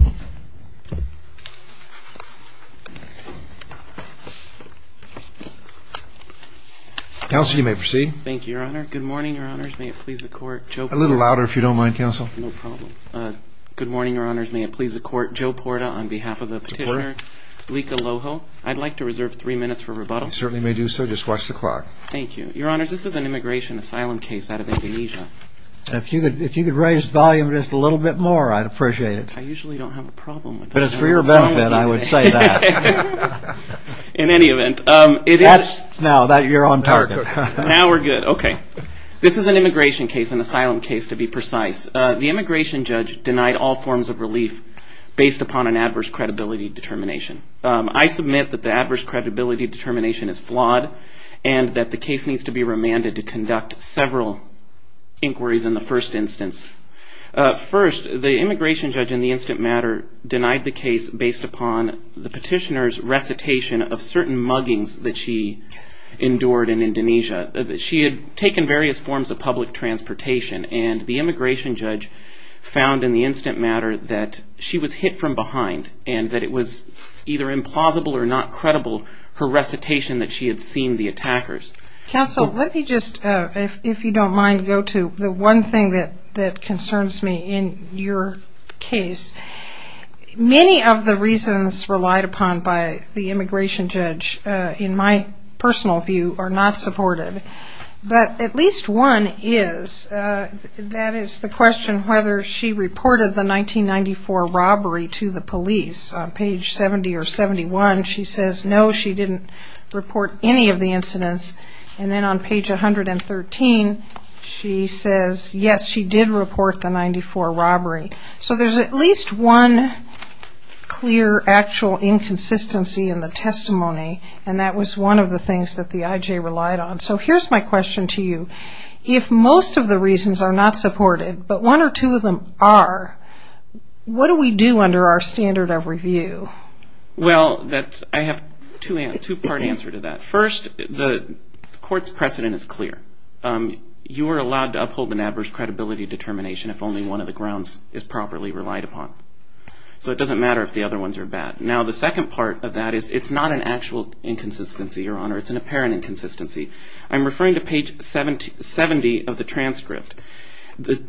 Good morning, Your Honors. May it please the Court, Joe Porta, on behalf of the petitioner, Lika Loho, I'd like to reserve three minutes for rebuttal. You certainly may do so. Just watch the clock. Thank you. Your Honors, this is an immigration asylum case out of Indonesia. If you could raise the volume just a little bit more, I'd appreciate it. I usually don't have a problem with that. But it's for your benefit, I would say that. In any event, it is... Now that you're on target. Now we're good. Okay. This is an immigration case, an asylum case to be precise. The immigration judge denied all forms of relief based upon an adverse credibility determination. I submit that the adverse credibility determination is flawed and that the case needs to be remanded to conduct several inquiries in the first instance. First, the immigration judge in the instant matter denied the case based upon the petitioner's recitation of certain muggings that she endured in Indonesia. She had taken various forms of public transportation and the immigration judge found in the instant matter that she was hit from behind and that it was either implausible or not credible, her recitation that she had seen the attackers. Counsel, let me just, if you don't mind, go to the one thing that concerns me in your case. Many of the reasons relied upon by the immigration judge, in my personal view, are not supported. But at least one is, that is the question whether she reported the 1994 robbery to the police. On page 70 or 71, she says no, she didn't report any of the incidents. And then on page 113, she says yes, she did report the 94 robbery. So there's at least one clear actual inconsistency in the testimony and that was one of the things that the IJ relied on. So here's my question to you. If most of the reasons are not supported, but one or two of them are, what do we do under our standard of review? Well, I have a two-part answer to that. First, the court's precedent is clear. You are allowed to uphold an adverse credibility determination if only one of the grounds is properly relied upon. So it doesn't matter if the other ones are bad. Now, the second part of that is it's not an actual inconsistency, Your Honor, it's an apparent inconsistency. I'm referring to page 70 of the transcript. The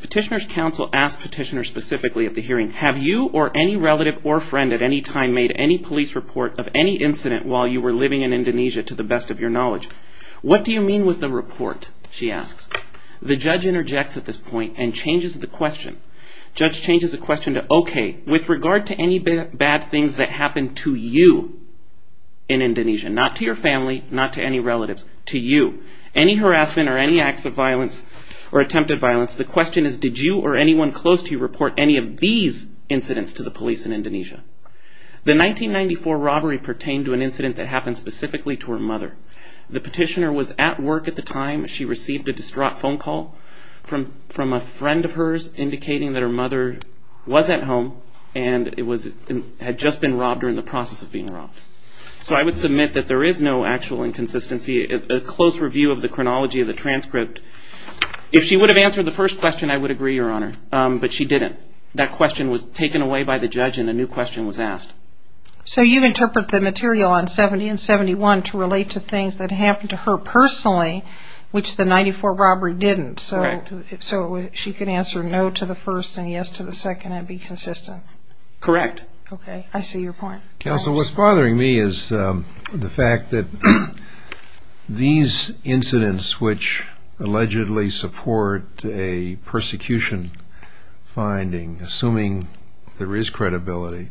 petitioner's counsel asked petitioner specifically at the hearing, have you or any relative or friend at any time made any police report of any incident while you were living in Indonesia to the best of your knowledge? What do you mean with the report, she asks. The judge interjects at this point and changes the question. Judge changes the question to, okay, with regard to any bad things that happened to you in Indonesia, not to your family, not to any relatives, to you, any harassment or any acts of violence or attempted violence, the question is did you or anyone close to you report any of these incidents to the police in Indonesia? The 1994 robbery pertained to an incident that happened specifically to her mother. The petitioner was at work at the time. She received a distraught phone call from a friend of hers indicating that her mother was at home and had just been robbed or in the process of being robbed. So I would submit that there is no actual inconsistency. A close review of the chronology of the transcript, if she would have answered the first question, I would agree, Your Honor, but she didn't. That question was taken away by the judge and a new question was asked. So you interpret the material on 70 and 71 to relate to things that happened to her personally, which the 94 robbery didn't, so she could answer no to the first and yes to the second and be consistent. Correct. Okay, I see your point. Counsel, what's bothering me is the fact that these incidents, which allegedly support a persecution finding, assuming there is credibility,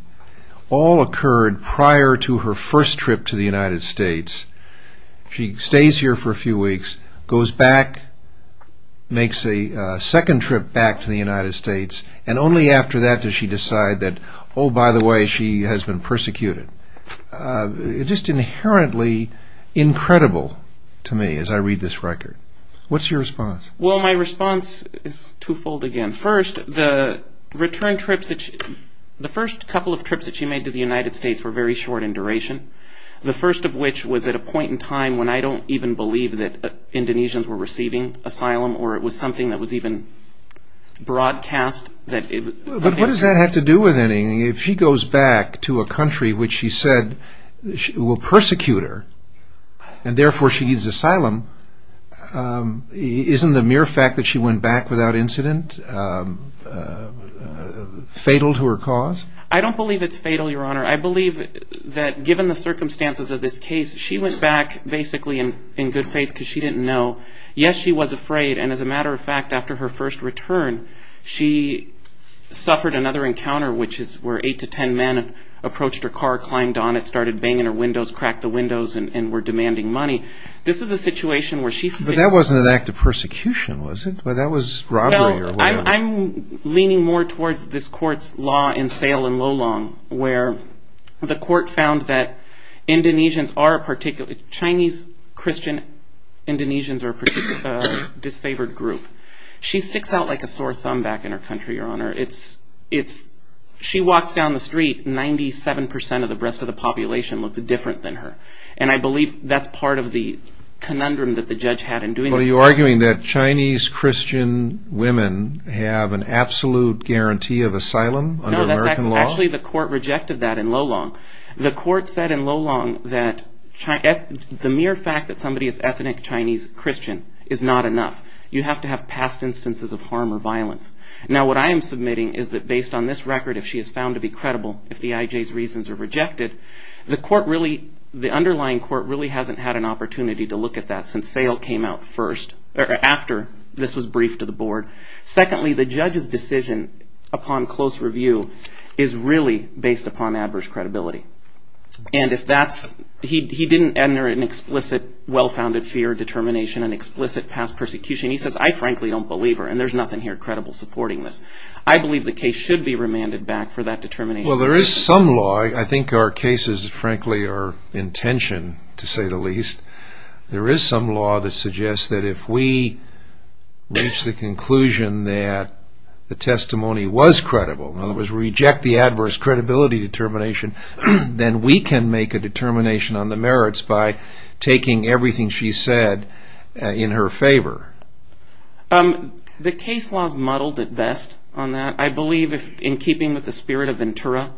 all occurred prior to her first trip to the United States. She stays here for a few weeks, goes back, makes a second trip back to the United States, and only after that does she decide that, oh, by the way, she has been persecuted. It's just inherently incredible to me as I read this record. What's your response? Well, my response is twofold again. First, the return trips, the first couple of trips that she made to the United States were very short in duration. The first of which was at a point in time when I don't even believe that Indonesians were receiving asylum or it was something that was even broadcast. But what does that have to do with anything? If she goes back to a country which she said will persecute her and therefore she needs asylum, isn't the mere fact that she went back without incident fatal to her cause? I don't believe it's fatal, Your Honor. I believe that given the circumstances of this case, she went back basically in good faith because she didn't know. Yes, she was afraid. And as a matter of fact, after her first return, she suffered another encounter, which is where eight to ten men approached her car, climbed on it, started banging her windows, cracked the windows, and were demanding money. This is a situation where she says- But that wasn't an act of persecution, was it? That was robbery or whatever. I'm leaning more towards this court's law in Sale and Lolong, where the court found that Chinese Christian Indonesians are a particularly disfavored group. She sticks out like a sore thumb back in her country, Your Honor. She walks down the street, 97% of the rest of the population looks different than her. And I believe that's part of the conundrum that the judge had in doing this. Are you arguing that Chinese Christian women have an absolute guarantee of asylum under American law? No, actually the court rejected that in Lolong. The court said in Lolong that the mere fact that somebody is ethnic Chinese Christian is not enough. You have to have past instances of harm or violence. Now, what I am submitting is that based on this record, if she is found to be credible, if the IJ's reasons are rejected, the underlying court really hasn't had an opportunity to look at that since Sale came out first, or after this was briefed to the board. Secondly, the judge's decision upon close review is really based upon adverse credibility. And if that's, he didn't enter an explicit well-founded fear determination, an explicit past persecution. He says, I frankly don't believe her and there's nothing here credible supporting this. I believe the case should be remanded back for that determination. Well, there is some law, I think our cases frankly are intention to say the least. There is some law that suggests that if we reach the conclusion that the testimony was credible, in other words reject the adverse credibility determination, then we can make a determination on the merits by taking everything she said in her favor. The case was muddled at best on that. I believe in keeping with the spirit of Ventura,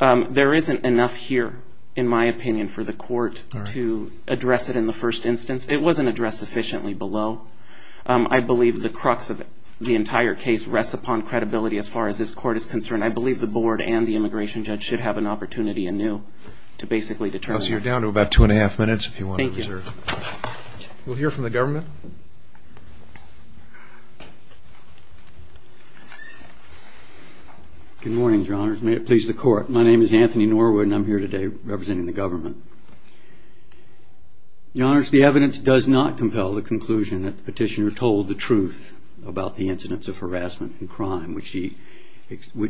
there isn't enough here, in my opinion, for the court to address it in the first instance. It wasn't addressed sufficiently below. I believe the crux of the entire case rests upon credibility as far as this court is concerned. I believe the board and the immigration judge should have an opportunity anew to basically determine. You're down to about two and a half minutes if you want to reserve. We'll hear from the government. Good morning, Your Honor. May it please the court. My name is Anthony Norwood, and I'm here today representing the government. Your Honor, the evidence does not compel the conclusion that the petitioner told the truth about the incidents of harassment and crime, which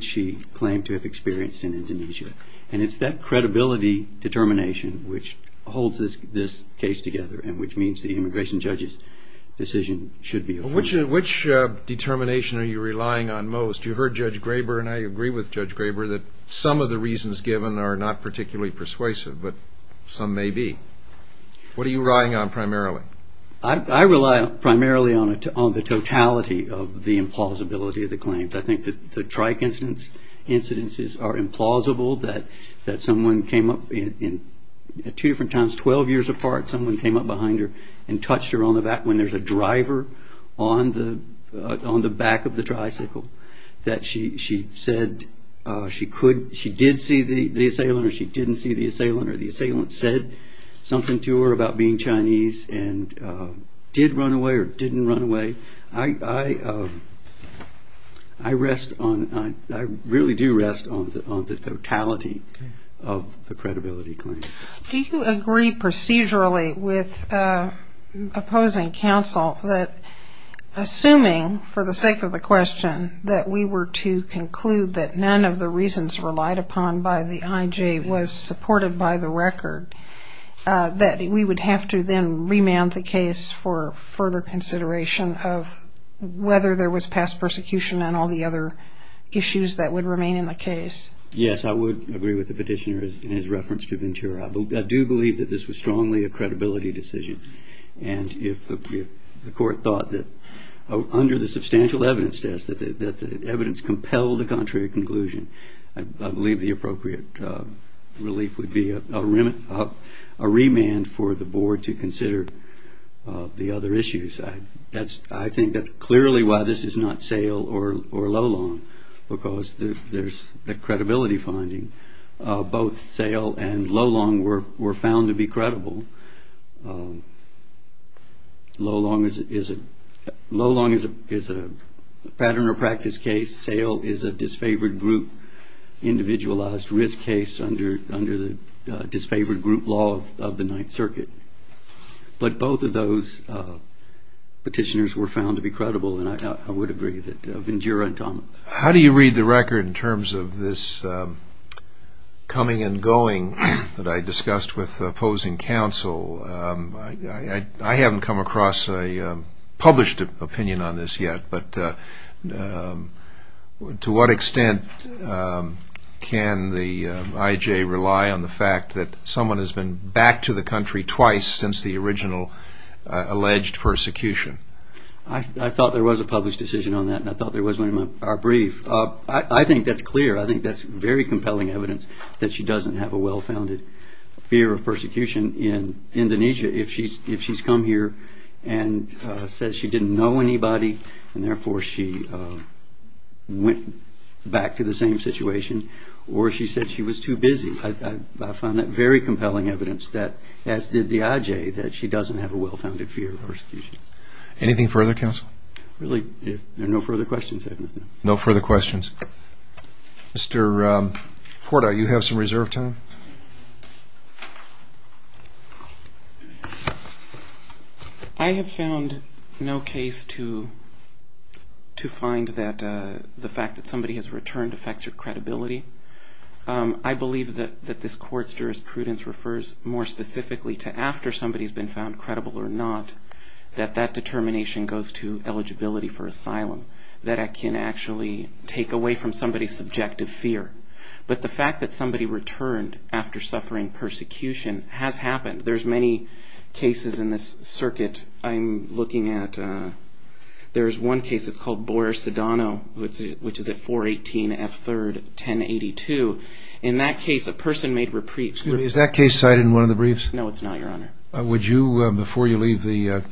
she claimed to have experienced in Indonesia. And it's that credibility determination which holds this case together and which means the immigration judge's decision should be affirmed. Which determination are you relying on most? You heard Judge Graber, and I agree with Judge Graber that some of the reasons given are not particularly persuasive, but some may be. What are you relying on primarily? I rely primarily on the totality of the implausibility of the claims. I think that the trike incidences are implausible, that someone came up in two different times, 12 years apart, someone came up behind her and touched her on the back of the tricycle, that she said she did see the assailant or she didn't see the assailant, or the assailant said something to her about being Chinese and did run away or didn't run away. I rest on, I really do rest on the totality of the credibility claim. Do you agree procedurally with opposing counsel that assuming, for the sake of the question, that we were to conclude that none of the reasons relied upon by the IJ was supported by the record, that we would have to then remand the case for further consideration of whether there was past persecution and all the other issues that would remain in the case? Yes, I would agree with the petitioner in his reference to Ventura. I do believe that this was strongly a credibility decision, and if the court thought that under the substantial evidence test that the evidence compelled the contrary conclusion, I believe the appropriate relief would be a remand for the board to consider the other issues. I think that's clearly why this is not Sale or Lowlong, because there's the credibility finding. Both Sale and Lowlong were found to be credible. Lowlong is a pattern or practice case. Sale is a disfavored group, individualized risk case under the disfavored group law of the Ninth Circuit. But both of those petitioners were found to be credible, and I would agree that Ventura and Thomas. How do you read the record in terms of this coming and going that I discussed with opposing counsel? I haven't come across a published opinion on this yet, but to what extent can the IJ rely on the fact that someone has been back to the country twice since the original alleged persecution? I thought there was a published decision on that, and I thought there was one in our brief. I think that's clear. I think that's very compelling evidence that she doesn't have a well-founded fear of persecution in Indonesia if she's come here and said she didn't know anybody, and therefore she went back to the same situation, or she said she was too busy. I found that very compelling evidence that, as did the IJ, that she doesn't have a well-founded fear of persecution. Anything further, counsel? Really, if there are no further questions, I have nothing else. No further questions. Mr. Porta, you have some reserve time. I have found no case to find that the fact that somebody has returned affects your credibility. I believe that this court's jurisprudence refers more specifically to after somebody has been found credible or not, that that determination goes to eligibility for asylum, that it can actually take away from somebody's subjective fear. But the fact that somebody returned after suffering persecution has happened. There's many cases in this circuit I'm looking at. There's one case that's called Boyer-Sedano, which is at 418 F. 3rd, 1082. In that case, a person made reprieves. Excuse me, is that case cited in one of the briefs? No, it's not, Your Honor. Would you, before you leave the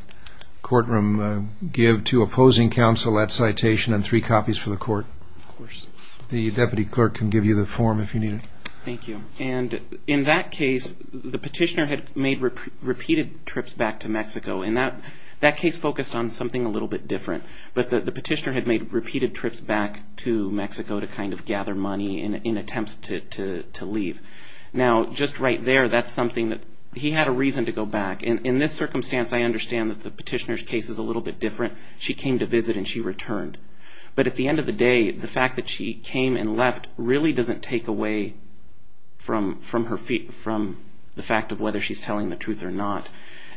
courtroom, give to opposing counsel that citation and three copies for the court? Of course. The deputy clerk can give you the form if you need it. Thank you. And in that case, the petitioner had made repeated trips back to Mexico. And that case focused on something a little bit different. But the petitioner had made repeated trips back to Mexico to kind of gather money in attempts to leave. Now, just right there, that's something that he had a reason to go back. In this circumstance, I understand that the petitioner's case is a little bit different. She came to visit and she returned. But at the end of the day, the fact that she came and left really doesn't take away from the fact of whether she's telling the truth or not.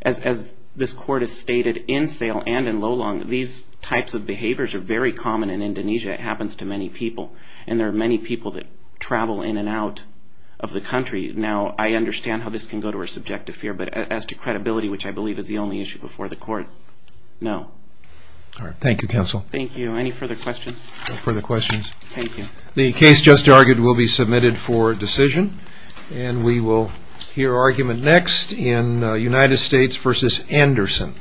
As this court has stated in Sale and in Lolong, these types of behaviors are very common in Indonesia. It happens to many people. And there are many people that travel in and out of the country. Now, I understand how this can go to a subjective fear. But as to credibility, which I believe is the only issue before the court, no. All right. Thank you, counsel. Thank you. Any further questions? No further questions. Thank you. The case just argued will be submitted for decision. And we will hear argument next in United States v. Anderson.